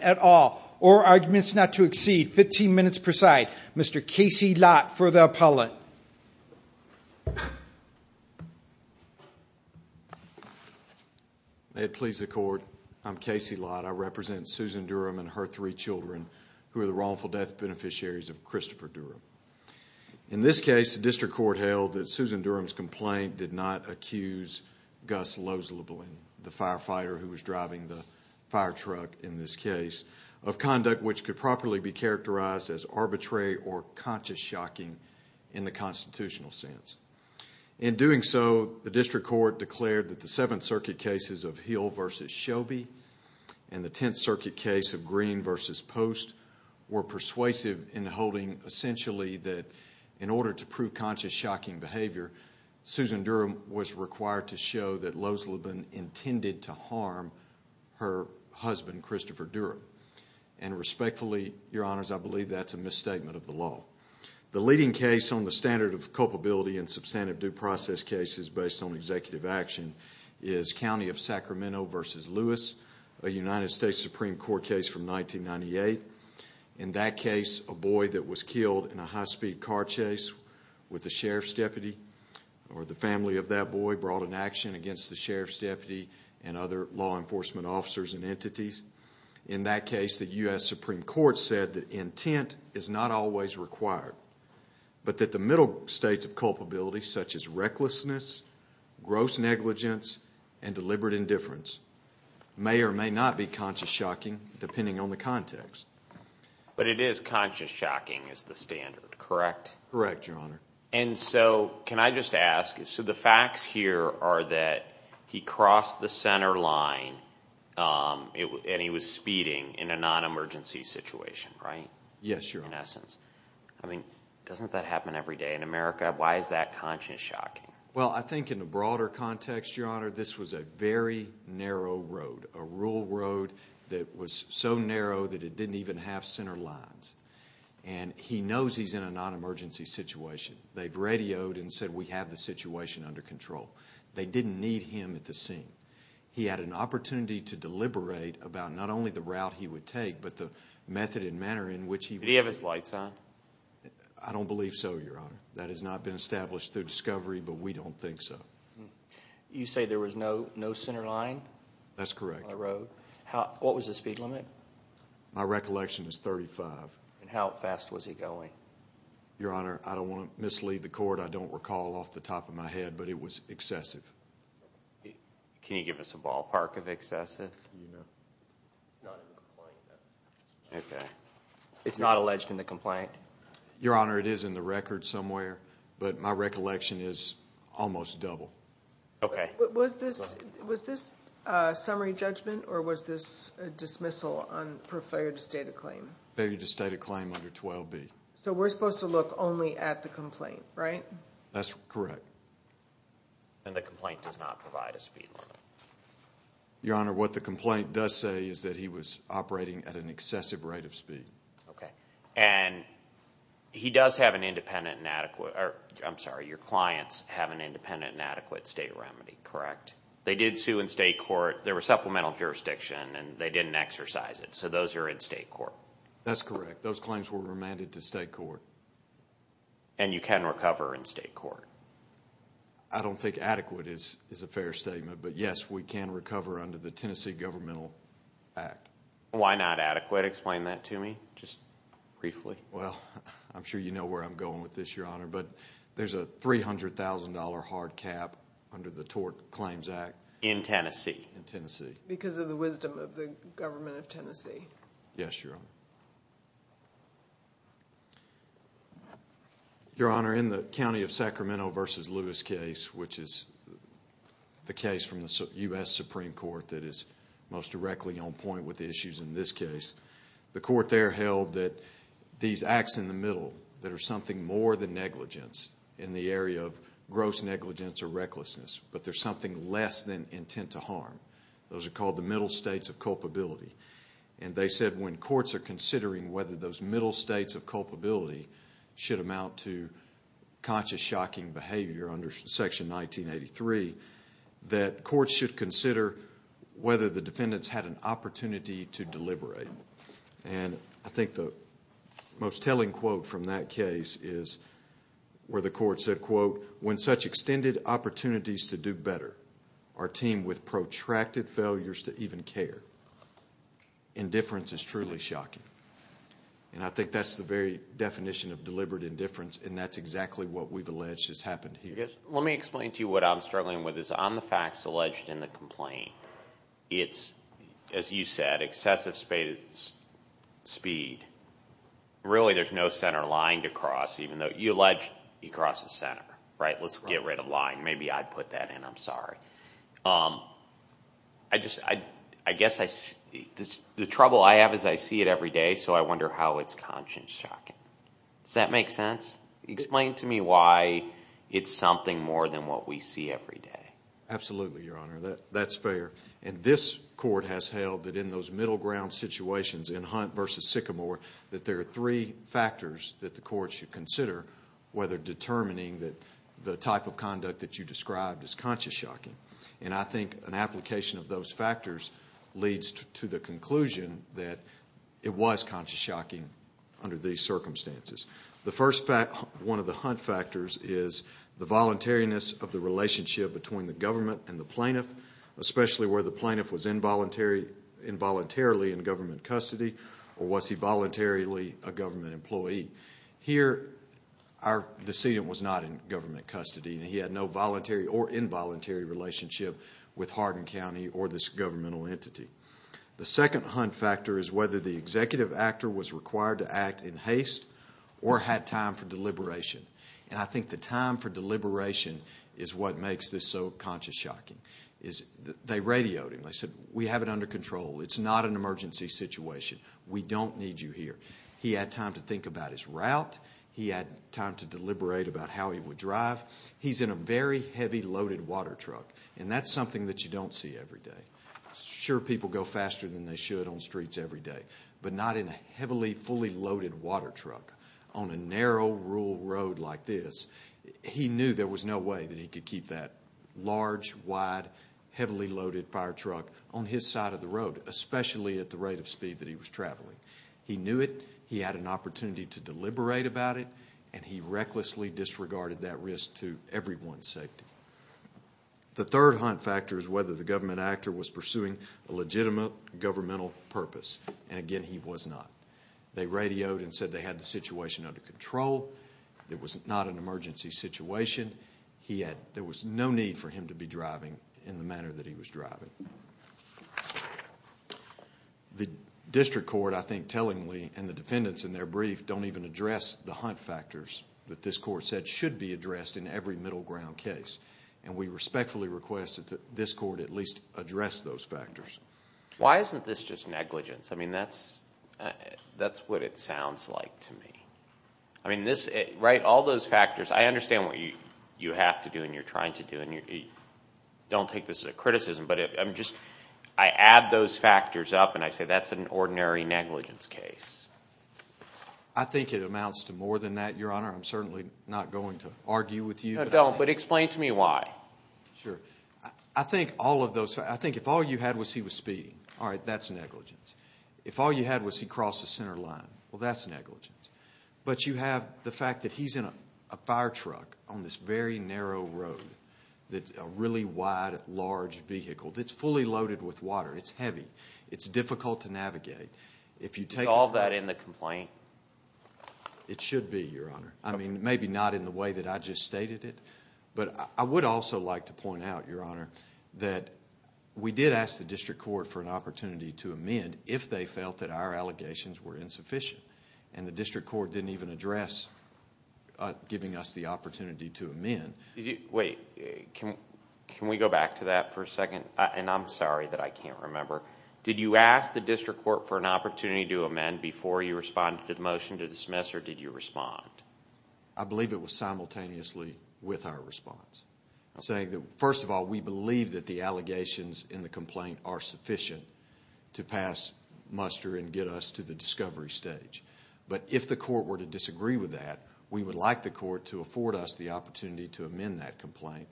at all, or arguments not to exceed 15 minutes per side. Mr. Casey Lott, for the appellate. May it please the court, I'm Casey Lott. I represent Susan Durham and her three children who are the wrongful death beneficiaries of Christopher Durham. I'm here to speak on behalf In this case, the District Court held that Susan Durham's complaint did not accuse Gus Losleben, the firefighter who was driving the fire truck in this case, of conduct which could properly be characterized as arbitrary or conscious shocking in the constitutional sense. In doing so, the District Court declared that the Seventh Circuit cases of Hill v. Shelby and the Tenth Circuit case of Green v. Post were persuasive in holding essentially that in order to prove conscious shocking behavior, Susan Durham was required to show that Losleben intended to harm her husband, Christopher Durham. And respectfully, your honors, I believe that's a misstatement of the law. The leading case on the standard of culpability in substantive due process cases based on executive action is County of Sacramento v. Lewis, a United States Supreme Court case from 1998. In that case, a boy that was killed in a high-speed car chase with the sheriff's deputy or the family of that boy brought an action against the sheriff's deputy and other law enforcement officers and entities. In that case, the U.S. Supreme Court said that intent is not always required, but that the middle states of culpability such as recklessness, gross negligence, and deliberate indifference may or may not be conscious shocking depending on the context. But it is conscious shocking is the standard, correct? Correct, your honor. And so can I just ask, so the facts here are that he crossed the center line and he was speeding in a non-emergency situation, right? Yes, your honor. In essence. I mean, doesn't that happen every day in America? Why is that conscious shocking? Well, I think in the broader context, your honor, this was a very narrow road, a rural road that was so narrow that it didn't even have center lines. And he knows he's in a non-emergency situation. They've radioed and said we have the situation under control. They didn't need him at the scene. He had an opportunity to deliberate about not only the route he would take, but the method and manner in which he would take it. Did he have his lights on? I don't believe so, your honor. That has not been established through discovery, but we don't think so. You say there was no center line? That's correct. On the road? What was the speed limit? My recollection is 35. And how fast was he going? Your honor, I don't want to mislead the court. I don't recall off the top of my head, but it was excessive. Can you give us a ballpark of excessive? It's not in the complaint. Okay. It's not alleged in the complaint? Your honor, it is in the record somewhere. But my recollection is almost double. Okay. Was this summary judgment or was this a dismissal for failure to state a claim? Failure to state a claim under 12B. So we're supposed to look only at the complaint, right? That's correct. And the complaint does not provide a speed limit? Your honor, what the complaint does say is that he was operating at an excessive rate of speed. Okay. And he does have an independent and adequate, or I'm sorry, your clients have an independent and adequate state remedy, correct? They did sue in state court. There was supplemental jurisdiction and they didn't exercise it. So those are in state court. That's correct. Those claims were remanded to state court. And you can recover in state court? I don't think adequate is a fair statement. But, yes, we can recover under the Tennessee Governmental Act. Why not adequate? Explain that to me just briefly. Well, I'm sure you know where I'm going with this, your honor. But there's a $300,000 hard cap under the Tort Claims Act. In Tennessee? In Tennessee. Because of the wisdom of the government of Tennessee. Yes, your honor. Your honor, in the county of Sacramento v. Lewis case, which is the case from the U.S. Supreme Court that is most directly on point with the issues in this case, the court there held that these acts in the middle that are something more than negligence in the area of gross negligence or recklessness, but there's something less than intent to harm. Those are called the middle states of culpability. And they said when courts are considering whether those middle states of culpability should amount to conscious, shocking behavior under Section 1983, that courts should consider whether the defendants had an opportunity to deliberate. And I think the most telling quote from that case is where the court said, quote, when such extended opportunities to do better are teamed with protracted failures to even care, indifference is truly shocking. And I think that's the very definition of deliberate indifference, and that's exactly what we've alleged has happened here. Let me explain to you what I'm struggling with. On the facts alleged in the complaint, it's, as you said, excessive speed. Really, there's no center line to cross, even though you allege he crosses center, right? Let's get rid of line. Maybe I'd put that in. I'm sorry. I guess the trouble I have is I see it every day, so I wonder how it's conscious shocking. Does that make sense? Explain to me why it's something more than what we see every day. Absolutely, Your Honor. That's fair. And this court has held that in those middle ground situations in Hunt v. Sycamore, that there are three factors that the court should consider whether determining the type of conduct that you described is conscious shocking. And I think an application of those factors leads to the conclusion that it was conscious shocking under these circumstances. One of the Hunt factors is the voluntariness of the relationship between the government and the plaintiff, especially where the plaintiff was involuntarily in government custody or was he voluntarily a government employee. Here, our decedent was not in government custody, and he had no voluntary or involuntary relationship with Hardin County or this governmental entity. The second Hunt factor is whether the executive actor was required to act in haste or had time for deliberation. And I think the time for deliberation is what makes this so conscious shocking. They radioed him. They said, we have it under control. It's not an emergency situation. We don't need you here. He had time to think about his route. He had time to deliberate about how he would drive. He's in a very heavy loaded water truck, and that's something that you don't see every day. Sure, people go faster than they should on streets every day, but not in a heavily fully loaded water truck on a narrow rural road like this. He knew there was no way that he could keep that large, wide, heavily loaded fire truck on his side of the road, especially at the rate of speed that he was traveling. He knew it. He had an opportunity to deliberate about it, and he recklessly disregarded that risk to everyone's safety. The third hunt factor is whether the government actor was pursuing a legitimate governmental purpose. And again, he was not. They radioed and said they had the situation under control. It was not an emergency situation. There was no need for him to be driving in the manner that he was driving. The district court, I think, tellingly, and the defendants in their brief, don't even address the hunt factors that this court said should be addressed in every middle ground case. And we respectfully request that this court at least address those factors. Why isn't this just negligence? I mean, that's what it sounds like to me. I mean, all those factors, I understand what you have to do and you're trying to do, and don't take this as a criticism, but I add those factors up and I say that's an ordinary negligence case. I think it amounts to more than that, Your Honor. I'm certainly not going to argue with you. No, don't, but explain to me why. Sure. I think all of those, I think if all you had was he was speeding, all right, that's negligence. If all you had was he crossed the center line, well, that's negligence. But you have the fact that he's in a fire truck on this very narrow road, a really wide, large vehicle that's fully loaded with water. It's heavy. It's difficult to navigate. Is all that in the complaint? It should be, Your Honor. I mean, maybe not in the way that I just stated it, but I would also like to point out, Your Honor, that we did ask the district court for an opportunity to amend if they felt that our allegations were insufficient, and the district court didn't even address giving us the opportunity to amend. Wait, can we go back to that for a second? And I'm sorry that I can't remember. Did you ask the district court for an opportunity to amend before you responded to the motion to dismiss, or did you respond? I believe it was simultaneously with our response. First of all, we believe that the allegations in the complaint are sufficient to pass muster and get us to the discovery stage. But if the court were to disagree with that, we would like the court to afford us the opportunity to amend that complaint,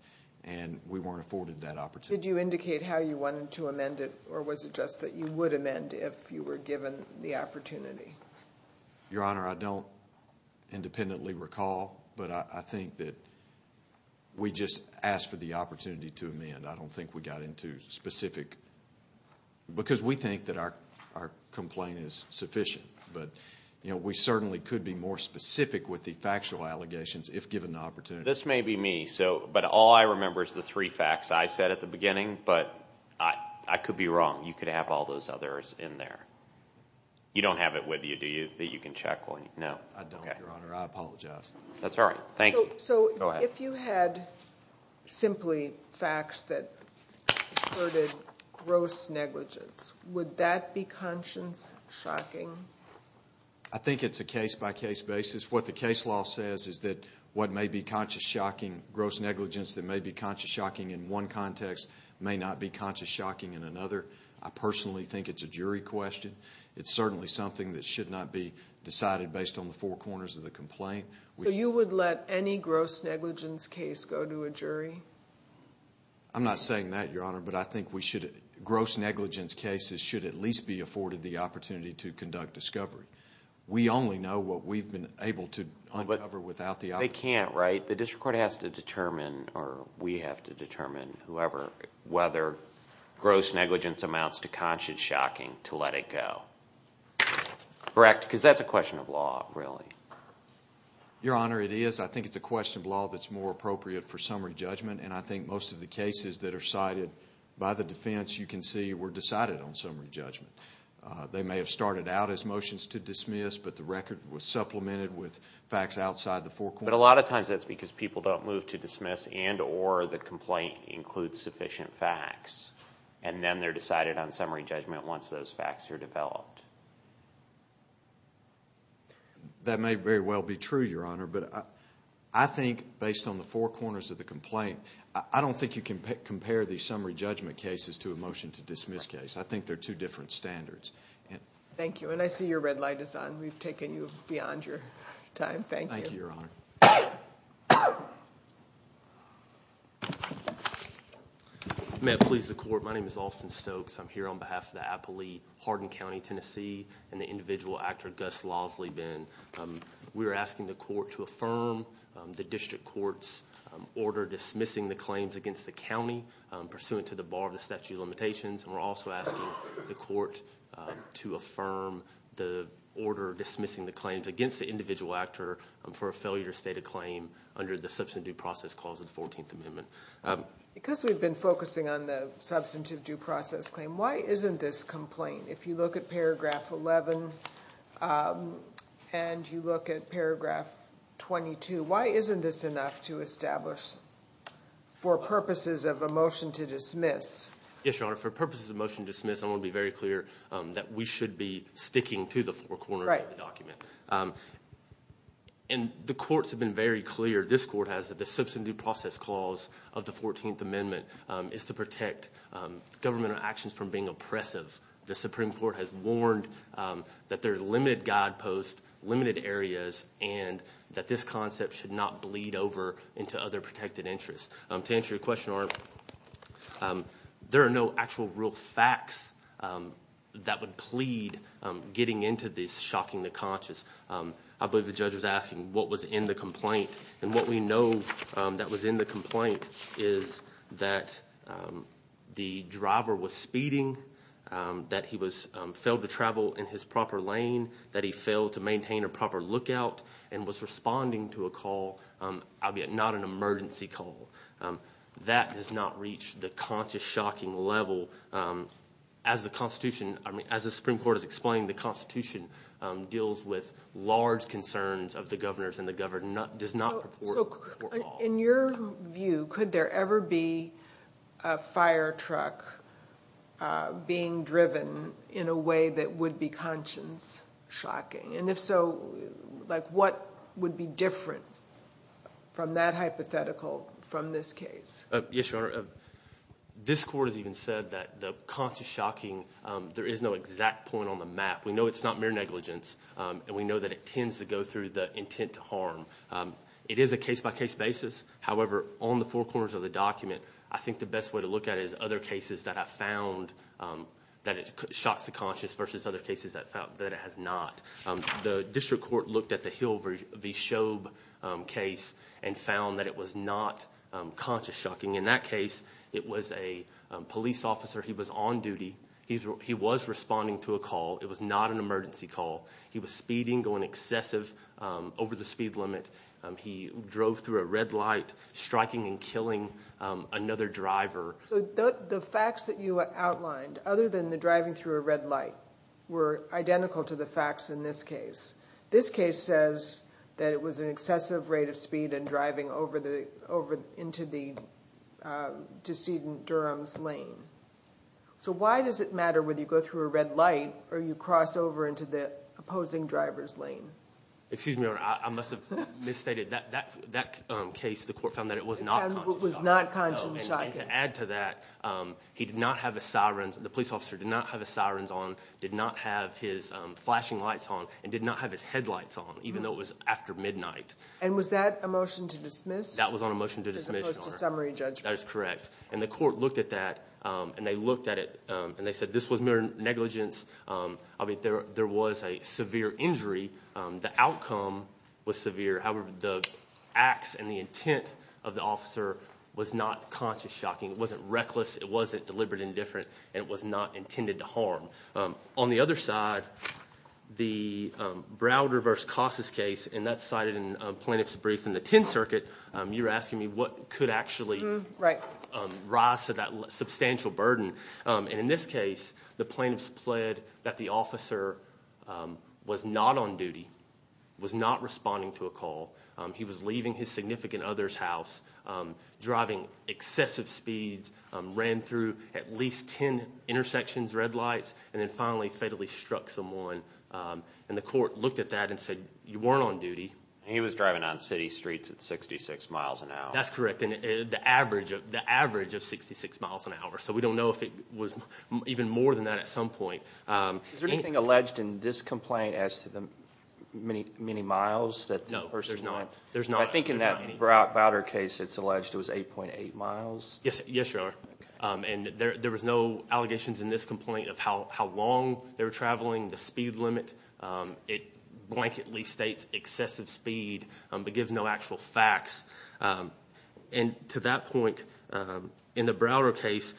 and we weren't afforded that opportunity. Did you indicate how you wanted to amend it, or was it just that you would amend if you were given the opportunity? Your Honor, I don't independently recall, but I think that we just asked for the opportunity to amend. I don't think we got into specific, because we think that our complaint is sufficient, but we certainly could be more specific with the factual allegations if given the opportunity. This may be me, but all I remember is the three facts. I said at the beginning, but I could be wrong. You could have all those others in there. You don't have it with you, do you, that you can check? No. I don't, Your Honor. I apologize. That's all right. Thank you. Go ahead. So if you had simply facts that included gross negligence, would that be conscience-shocking? I think it's a case-by-case basis. What the case law says is that what may be conscience-shocking, gross negligence, that may be conscience-shocking in one context may not be conscience-shocking in another. I personally think it's a jury question. It's certainly something that should not be decided based on the four corners of the complaint. So you would let any gross negligence case go to a jury? I'm not saying that, Your Honor, but I think gross negligence cases should at least be afforded the opportunity to conduct discovery. We only know what we've been able to uncover without the opportunity. They can't, right? But the district court has to determine, or we have to determine, whoever, whether gross negligence amounts to conscience-shocking to let it go. Correct? Because that's a question of law, really. Your Honor, it is. I think it's a question of law that's more appropriate for summary judgment, and I think most of the cases that are cited by the defense, you can see, were decided on summary judgment. They may have started out as motions to dismiss, but the record was supplemented with facts outside the four corners. But a lot of times that's because people don't move to dismiss and or the complaint includes sufficient facts, and then they're decided on summary judgment once those facts are developed. That may very well be true, Your Honor, but I think based on the four corners of the complaint, I don't think you can compare these summary judgment cases to a motion to dismiss case. I think they're two different standards. Thank you. And I see your red light is on. We've taken you beyond your time. Thank you. Thank you, Your Honor. May it please the Court, my name is Austin Stokes. I'm here on behalf of the Applee-Hardin County, Tennessee, and the individual actor, Gus Lasley. We are asking the Court to affirm the district court's order dismissing the claims against the county, and we're also asking the Court to affirm the order dismissing the claims against the individual actor for a failure to state a claim under the substantive due process clause of the 14th Amendment. Because we've been focusing on the substantive due process claim, why isn't this complaint, if you look at paragraph 11 and you look at paragraph 22, why isn't this enough to establish for purposes of a motion to dismiss? Yes, Your Honor. For purposes of a motion to dismiss, I want to be very clear that we should be sticking to the four corners of the document. And the courts have been very clear, this court has, that the substantive due process clause of the 14th Amendment is to protect governmental actions from being oppressive. The Supreme Court has warned that there are limited guideposts, limited areas, and that this concept should not bleed over into other protected interests. To answer your question, Your Honor, there are no actual real facts that would plead getting into this shocking the conscious. I believe the judge was asking what was in the complaint, and what we know that was in the complaint is that the driver was speeding, that he failed to travel in his proper lane, that he failed to maintain a proper lookout, and was responding to a call, albeit not an emergency call. That has not reached the conscious shocking level. As the Constitution, I mean, as the Supreme Court has explained, the Constitution deals with large concerns of the governors, and the governor does not purport. In your view, could there ever be a fire truck being driven in a way that would be conscience shocking? And if so, like what would be different from that hypothetical from this case? Yes, Your Honor. This court has even said that the conscious shocking, there is no exact point on the map. We know it's not mere negligence, and we know that it tends to go through the intent to harm. It is a case-by-case basis. However, on the four corners of the document, I think the best way to look at it is other cases that I've found that it shocks the conscious versus other cases that it has not. The district court looked at the Hill v. Shoeb case and found that it was not conscious shocking. In that case, it was a police officer. He was on duty. He was responding to a call. It was not an emergency call. He was speeding, going excessive over the speed limit. He drove through a red light, striking and killing another driver. So the facts that you outlined, other than the driving through a red light, were identical to the facts in this case. This case says that it was an excessive rate of speed and driving over into the decedent Durham's lane. So why does it matter whether you go through a red light or you cross over into the opposing driver's lane? Excuse me, Your Honor. I must have misstated. That case, the court found that it was not conscious shocking. And to add to that, he did not have his sirens. The police officer did not have his sirens on, did not have his flashing lights on, and did not have his headlights on, even though it was after midnight. And was that a motion to dismiss? That was on a motion to dismiss, Your Honor. As opposed to summary judgment. That is correct. And the court looked at that, and they looked at it, and they said this was mere negligence. There was a severe injury. The outcome was severe. However, the acts and the intent of the officer was not conscious shocking. It wasn't reckless. It wasn't deliberate and indifferent. And it was not intended to harm. On the other side, the Browder v. Casas case, and that's cited in plaintiff's brief in the 10th Circuit, you were asking me what could actually rise to that substantial burden. And in this case, the plaintiffs pled that the officer was not on duty, was not responding to a call. He was leaving his significant other's house, driving excessive speeds, ran through at least 10 intersections, red lights, and then finally fatally struck someone. And the court looked at that and said you weren't on duty. He was driving on city streets at 66 miles an hour. That's correct. The average of 66 miles an hour. So we don't know if it was even more than that at some point. Is there anything alleged in this complaint as to the many miles that the person was driving? No, there's not. I think in that Browder case it's alleged it was 8.8 miles. Yes, Your Honor. And there was no allegations in this complaint of how long they were traveling, the speed limit. It blanketly states excessive speed but gives no actual facts. And to that point, in the Browder case,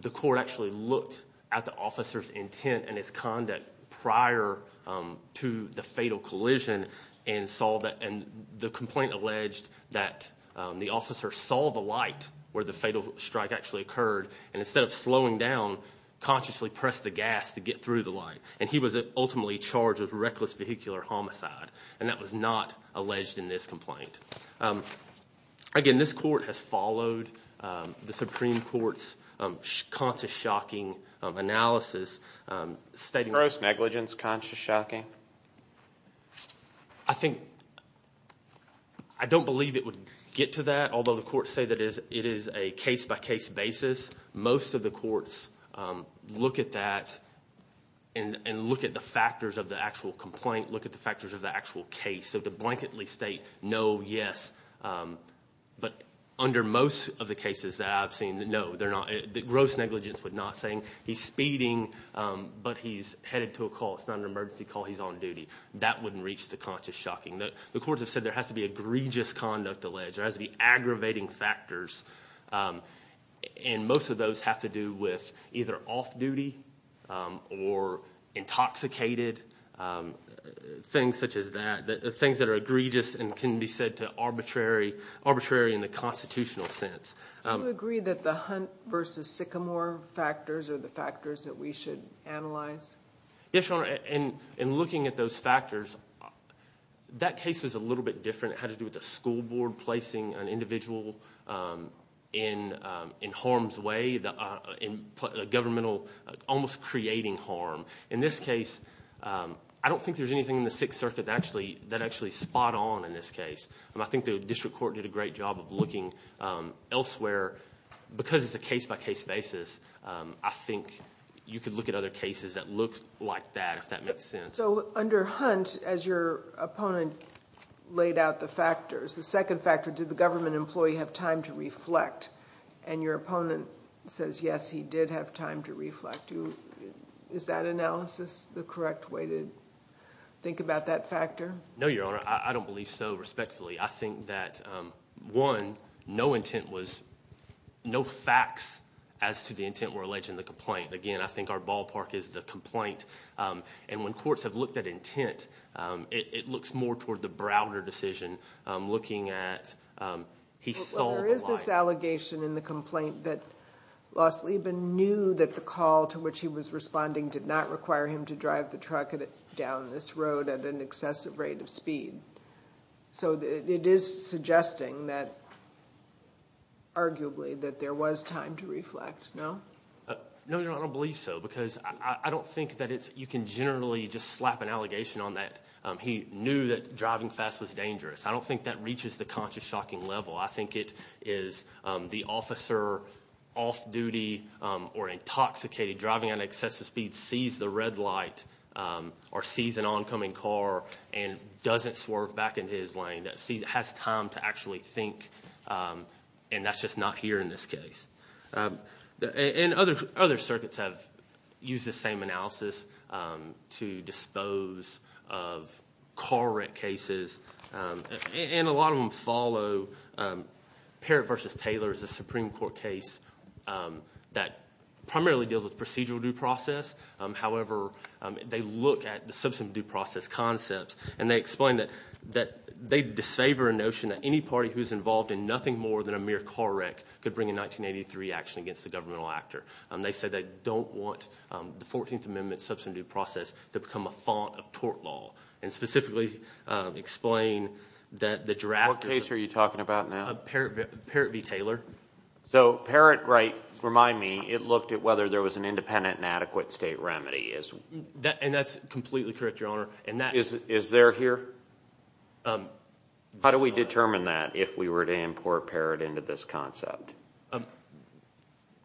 the court actually looked at the officer's intent and his conduct prior to the fatal collision and the complaint alleged that the officer saw the light where the fatal strike actually occurred. And instead of slowing down, consciously pressed the gas to get through the light. And he was ultimately charged with reckless vehicular homicide. And that was not alleged in this complaint. Again, this court has followed the Supreme Court's conscious shocking analysis. Gross negligence, conscious shocking. I think I don't believe it would get to that, although the courts say that it is a case-by-case basis. Most of the courts look at that and look at the factors of the actual complaint, look at the factors of the actual case. So to blanketly state no, yes, but under most of the cases that I've seen, no, they're not. Gross negligence was not saying he's speeding but he's headed to a call. It's not an emergency call. He's on duty. That wouldn't reach the conscious shocking. The courts have said there has to be egregious conduct alleged. There has to be aggravating factors. And most of those have to do with either off-duty or intoxicated, things such as that, things that are egregious and can be said to arbitrary in the constitutional sense. Do you agree that the Hunt v. Sycamore factors are the factors that we should analyze? Yes, Your Honor. In looking at those factors, that case was a little bit different. It had to do with the school board placing an individual in harm's way, almost creating harm. In this case, I don't think there's anything in the Sixth Circuit that actually is spot on in this case. I think the district court did a great job of looking elsewhere. Because it's a case-by-case basis, I think you could look at other cases that look like that if that makes sense. So under Hunt, as your opponent laid out the factors, the second factor, did the government employee have time to reflect? And your opponent says, yes, he did have time to reflect. Is that analysis the correct way to think about that factor? No, Your Honor. I don't believe so respectfully. I think that, one, no intent was – no facts as to the intent were alleged in the complaint. Again, I think our ballpark is the complaint. And when courts have looked at intent, it looks more toward the Browder decision, looking at he sold the line. Well, there is this allegation in the complaint that Los Lieben knew that the call to which he was responding did not require him to drive the truck down this road at an excessive rate of speed. So it is suggesting that, arguably, that there was time to reflect, no? No, Your Honor. I don't believe so because I don't think that it's – you can generally just slap an allegation on that. He knew that driving fast was dangerous. I don't think that reaches the conscious shocking level. I think it is the officer off-duty or intoxicated driving at an excessive speed sees the red light or sees an oncoming car and doesn't swerve back into his lane, that has time to actually think, and that's just not here in this case. And other circuits have used this same analysis to dispose of car wreck cases. And a lot of them follow Parrott v. Taylor as a Supreme Court case that primarily deals with procedural due process. However, they look at the substantive due process concepts, and they explain that they disfavor a notion that any party who is involved in nothing more than a mere car wreck could bring in 1983 action against the governmental actor. They say they don't want the 14th Amendment substantive due process to become a font of tort law and specifically explain that the draft is – What case are you talking about now? Parrott v. Taylor. So Parrott, right, remind me, it looked at whether there was an independent and adequate state remedy. And that's completely correct, Your Honor. Is there here? How do we determine that if we were to import Parrott into this concept?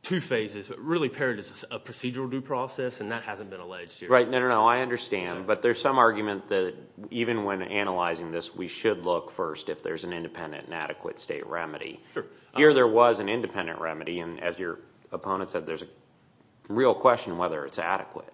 Two phases. Really, Parrott is a procedural due process, and that hasn't been alleged here. Right. No, no, no. I understand. But there's some argument that even when analyzing this, we should look first if there's an independent and adequate state remedy. Sure. Here there was an independent remedy, and as your opponent said, there's a real question whether it's adequate.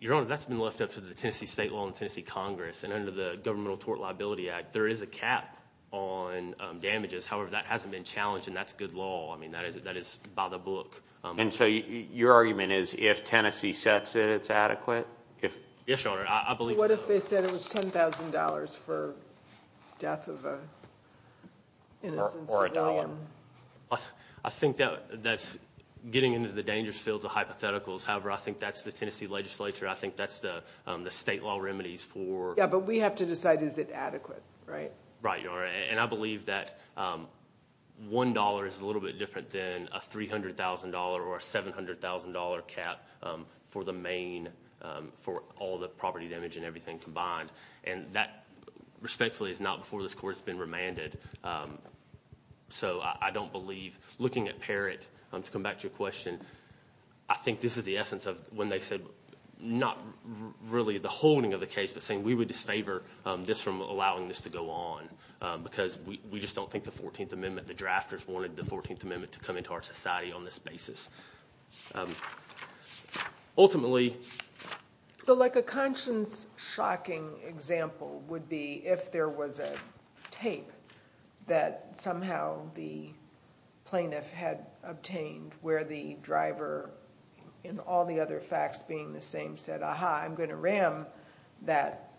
Your Honor, that's been left up to the Tennessee State Law and Tennessee Congress, and under the Governmental Tort Liability Act, there is a cap on damages. However, that hasn't been challenged, and that's good law. I mean, that is by the book. And so your argument is if Tennessee sets it, it's adequate? Yes, Your Honor. I believe so. You said it was $10,000 for death of an innocent civilian. I think that's getting into the dangerous fields of hypotheticals. However, I think that's the Tennessee legislature. I think that's the state law remedies for- Yeah, but we have to decide is it adequate, right? Right, Your Honor. And I believe that $1 is a little bit different than a $300,000 or a $700,000 cap for the main, for all the property damage and everything combined. And that, respectfully, is not before this court has been remanded. So I don't believe, looking at Parrott, to come back to your question, I think this is the essence of when they said not really the holding of the case, but saying we would disfavor this from allowing this to go on because we just don't think the 14th Amendment, the drafters wanted the 14th Amendment to come into our society on this basis. Ultimately- So like a conscience-shocking example would be if there was a tape that somehow the plaintiff had obtained where the driver, in all the other facts being the same, said, aha, I'm going to ram that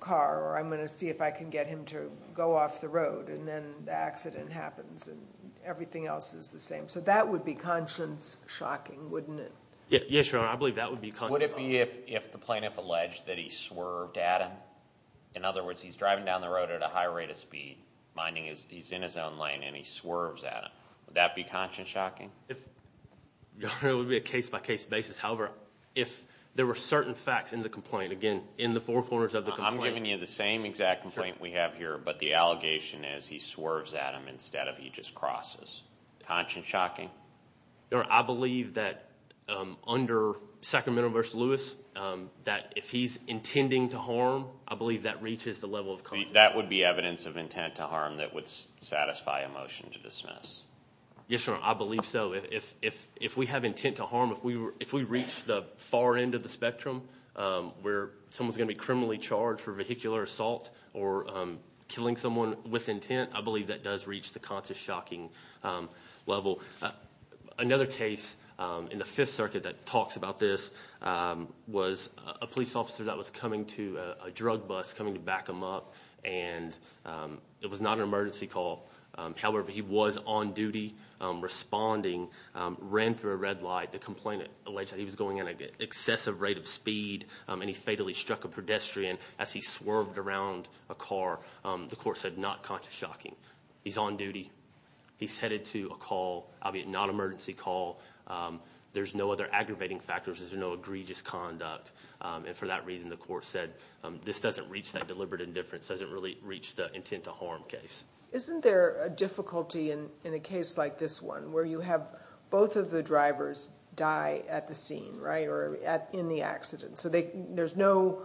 car or I'm going to see if I can get him to go off the road. And then the accident happens and everything else is the same. So that would be conscience-shocking, wouldn't it? Yes, Your Honor, I believe that would be conscience-shocking. Would it be if the plaintiff alleged that he swerved at him? In other words, he's driving down the road at a high rate of speed, minding he's in his own lane, and he swerves at him. Would that be conscience-shocking? It would be a case-by-case basis. However, if there were certain facts in the complaint, again, in the four corners of the complaint- I'm giving you the same exact complaint we have here, but the allegation is he swerves at him instead of he just crosses. Conscience-shocking? Your Honor, I believe that under Sacramento v. Lewis, that if he's intending to harm, I believe that reaches the level of conscience- That would be evidence of intent to harm that would satisfy a motion to dismiss. Yes, Your Honor, I believe so. If we have intent to harm, if we reach the far end of the spectrum where someone's going to be criminally charged for vehicular assault or killing someone with intent, I believe that does reach the conscience-shocking level. Another case in the Fifth Circuit that talks about this was a police officer that was coming to a drug bus, coming to back him up, and it was not an emergency call. However, he was on duty, responding, ran through a red light. The complaint alleged that he was going at an excessive rate of speed, and he fatally struck a pedestrian as he swerved around a car. The court said not conscience-shocking. He's on duty. He's headed to a call, albeit not an emergency call. There's no other aggravating factors. There's no egregious conduct. And for that reason, the court said this doesn't reach that deliberate indifference, doesn't really reach the intent to harm case. Isn't there a difficulty in a case like this one where you have both of the drivers die at the scene, right, or in the accident? So there's no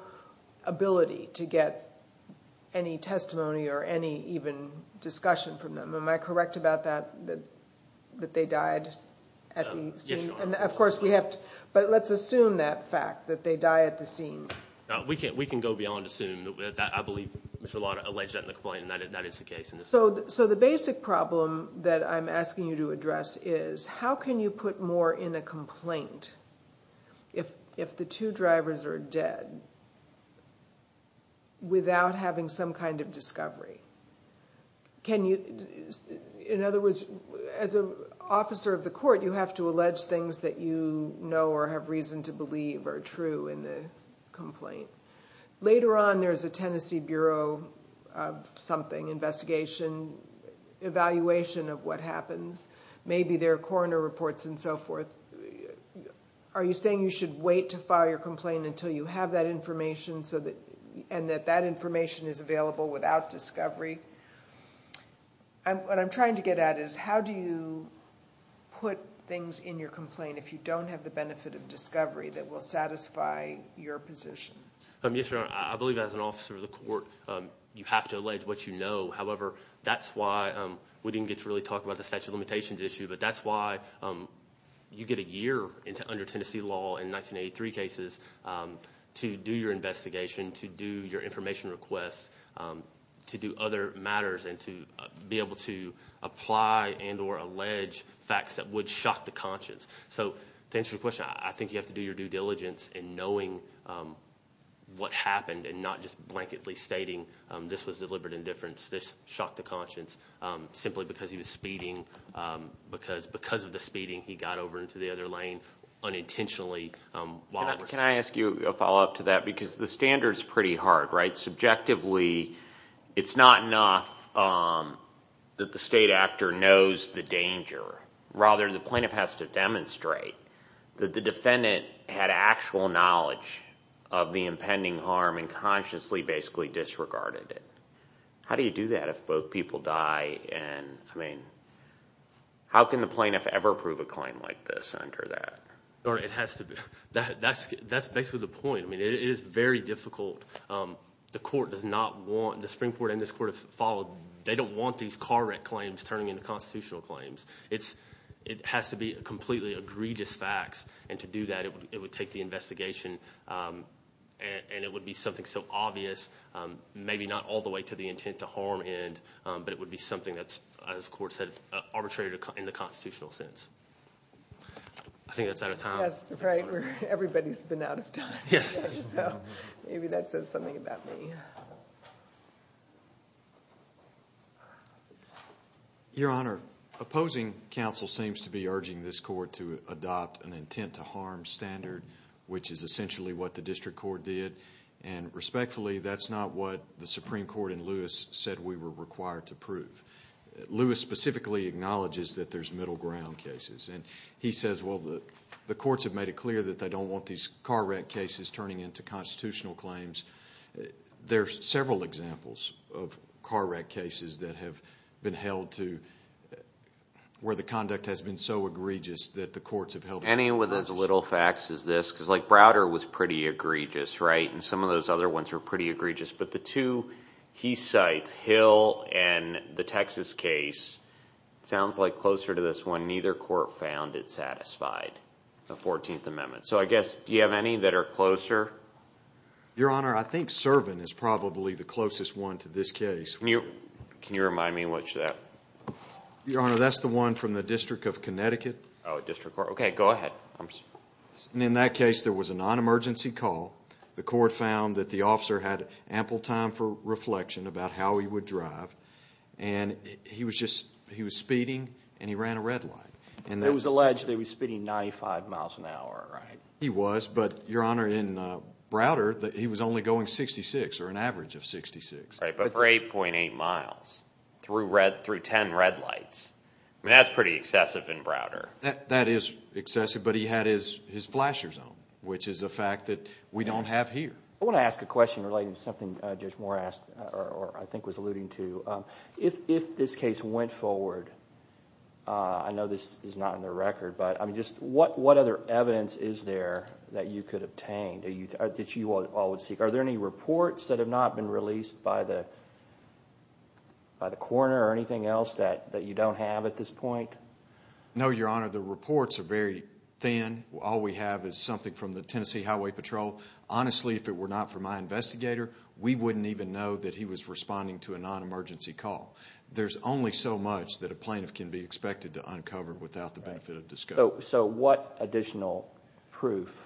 ability to get any testimony or any even discussion from them. Am I correct about that, that they died at the scene? Yes, Your Honor. Of course, we have to – but let's assume that fact, that they die at the scene. We can go beyond assume. I believe Mr. Lott alleged that in the complaint, and that is the case in this case. So the basic problem that I'm asking you to address is how can you put more in a complaint? If the two drivers are dead, without having some kind of discovery, can you – in other words, as an officer of the court, you have to allege things that you know or have reason to believe are true in the complaint. Later on, there's a Tennessee Bureau of something, investigation, evaluation of what happens. Maybe there are coroner reports and so forth. Are you saying you should wait to file your complaint until you have that information and that that information is available without discovery? What I'm trying to get at is how do you put things in your complaint if you don't have the benefit of discovery that will satisfy your position? Yes, Your Honor. I believe as an officer of the court, you have to allege what you know. However, that's why we didn't get to really talk about the statute of limitations issue, but that's why you get a year under Tennessee law in 1983 cases to do your investigation, to do your information requests, to do other matters, and to be able to apply and or allege facts that would shock the conscience. So to answer your question, I think you have to do your due diligence in knowing what happened and not just blanketly stating this was deliberate indifference. This shocked the conscience simply because he was speeding. Because of the speeding, he got over into the other lane unintentionally. Can I ask you a follow-up to that? Because the standard is pretty hard, right? Subjectively, it's not enough that the state actor knows the danger. Rather, the plaintiff has to demonstrate that the defendant had actual knowledge of the impending harm and consciously basically disregarded it. How do you do that if both people die? I mean, how can the plaintiff ever prove a claim like this under that? Your Honor, it has to be—that's basically the point. I mean, it is very difficult. The court does not want—the Supreme Court and this court have followed— they don't want these car wreck claims turning into constitutional claims. It has to be completely egregious facts, and to do that, it would take the investigation, and it would be something so obvious, maybe not all the way to the intent to harm end, but it would be something that's, as the court said, arbitrary in the constitutional sense. I think that's out of time. Yes, right. Everybody's been out of time. Yes. So maybe that says something about me. Thank you. Your Honor, opposing counsel seems to be urging this court to adopt an intent to harm standard, which is essentially what the district court did, and respectfully, that's not what the Supreme Court in Lewis said we were required to prove. Lewis specifically acknowledges that there's middle ground cases, and he says, well, the courts have made it clear that they don't want these car wreck cases turning into constitutional claims. There are several examples of car wreck cases that have been held to— where the conduct has been so egregious that the courts have held— Any with as little facts as this, because, like, Browder was pretty egregious, right, and some of those other ones were pretty egregious, but the two he cites, Hill and the Texas case, sounds like closer to this one, neither court found it satisfied, the 14th Amendment. So I guess, do you have any that are closer? Your Honor, I think Servant is probably the closest one to this case. Can you remind me which is that? Your Honor, that's the one from the District of Connecticut. Oh, District Court. Okay, go ahead. In that case, there was a non-emergency call. The court found that the officer had ample time for reflection about how he would drive, and he was speeding, and he ran a red light. It was alleged that he was speeding 95 miles an hour, right? He was, but, Your Honor, in Browder, he was only going 66, or an average of 66. Right, but for 8.8 miles, through 10 red lights. I mean, that's pretty excessive in Browder. That is excessive, but he had his flasher zone, which is a fact that we don't have here. I want to ask a question relating to something Judge Moore asked, or I think was alluding to. If this case went forward, I know this is not in the record, but what other evidence is there that you could obtain, that you all would seek? Are there any reports that have not been released by the coroner, or anything else that you don't have at this point? No, Your Honor, the reports are very thin. All we have is something from the Tennessee Highway Patrol. Honestly, if it were not for my investigator, we wouldn't even know that he was responding to a non-emergency call. There's only so much that a plaintiff can be expected to uncover without the benefit of discovery. So what additional proof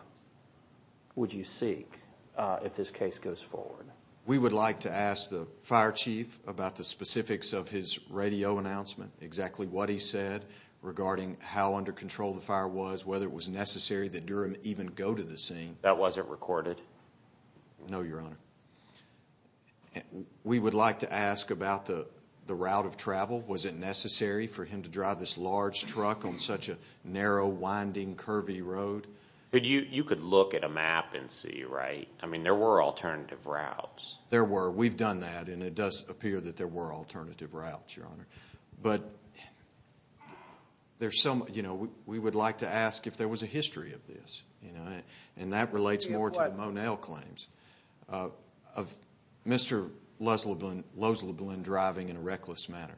would you seek if this case goes forward? We would like to ask the fire chief about the specifics of his radio announcement, exactly what he said regarding how under control the fire was, whether it was necessary that Durham even go to the scene. That wasn't recorded? No, Your Honor. We would like to ask about the route of travel. Was it necessary for him to drive this large truck on such a narrow, winding, curvy road? You could look at a map and see, right? I mean, there were alternative routes. There were. We've done that, and it does appear that there were alternative routes, Your Honor. But we would like to ask if there was a history of this. And that relates more to the Monell claims of Mr. Loesleblen driving in a reckless manner,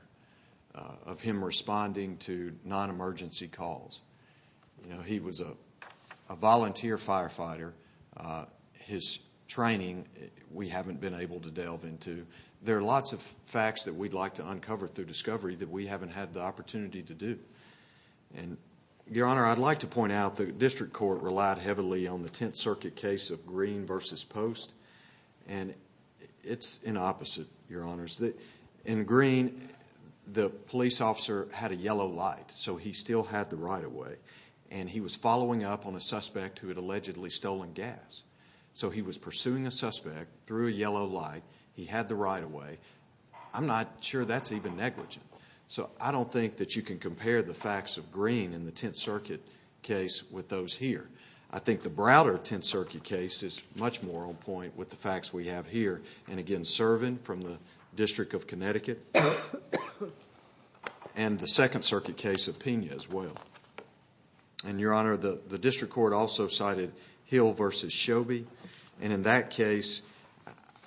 of him responding to non-emergency calls. He was a volunteer firefighter. His training we haven't been able to delve into. There are lots of facts that we'd like to uncover through discovery that we haven't had the opportunity to do. Your Honor, I'd like to point out the district court relied heavily on the Tenth Circuit case of Green v. Post. And it's an opposite, Your Honors. In Green, the police officer had a yellow light, so he still had the right-of-way. And he was following up on a suspect who had allegedly stolen gas. So he was pursuing a suspect through a yellow light. He had the right-of-way. I'm not sure that's even negligent. So I don't think that you can compare the facts of Green in the Tenth Circuit case with those here. I think the Browder Tenth Circuit case is much more on point with the facts we have here. And, again, Servin from the District of Connecticut and the Second Circuit case of Pena as well. And, Your Honor, the district court also cited Hill v. Shobie. And in that case,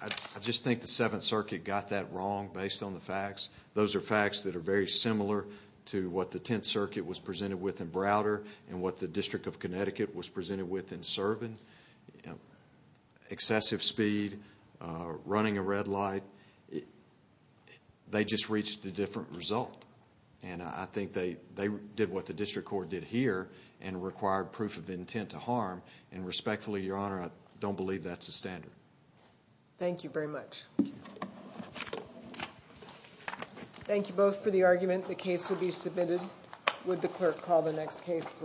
I just think the Seventh Circuit got that wrong based on the facts. Those are facts that are very similar to what the Tenth Circuit was presented with in Browder and what the District of Connecticut was presented with in Servin. Excessive speed, running a red light. They just reached a different result. And I think they did what the district court did here and required proof of intent to harm. And, respectfully, Your Honor, I don't believe that's the standard. Thank you very much. Thank you both for the argument. The case will be submitted. Would the clerk call the next case, please?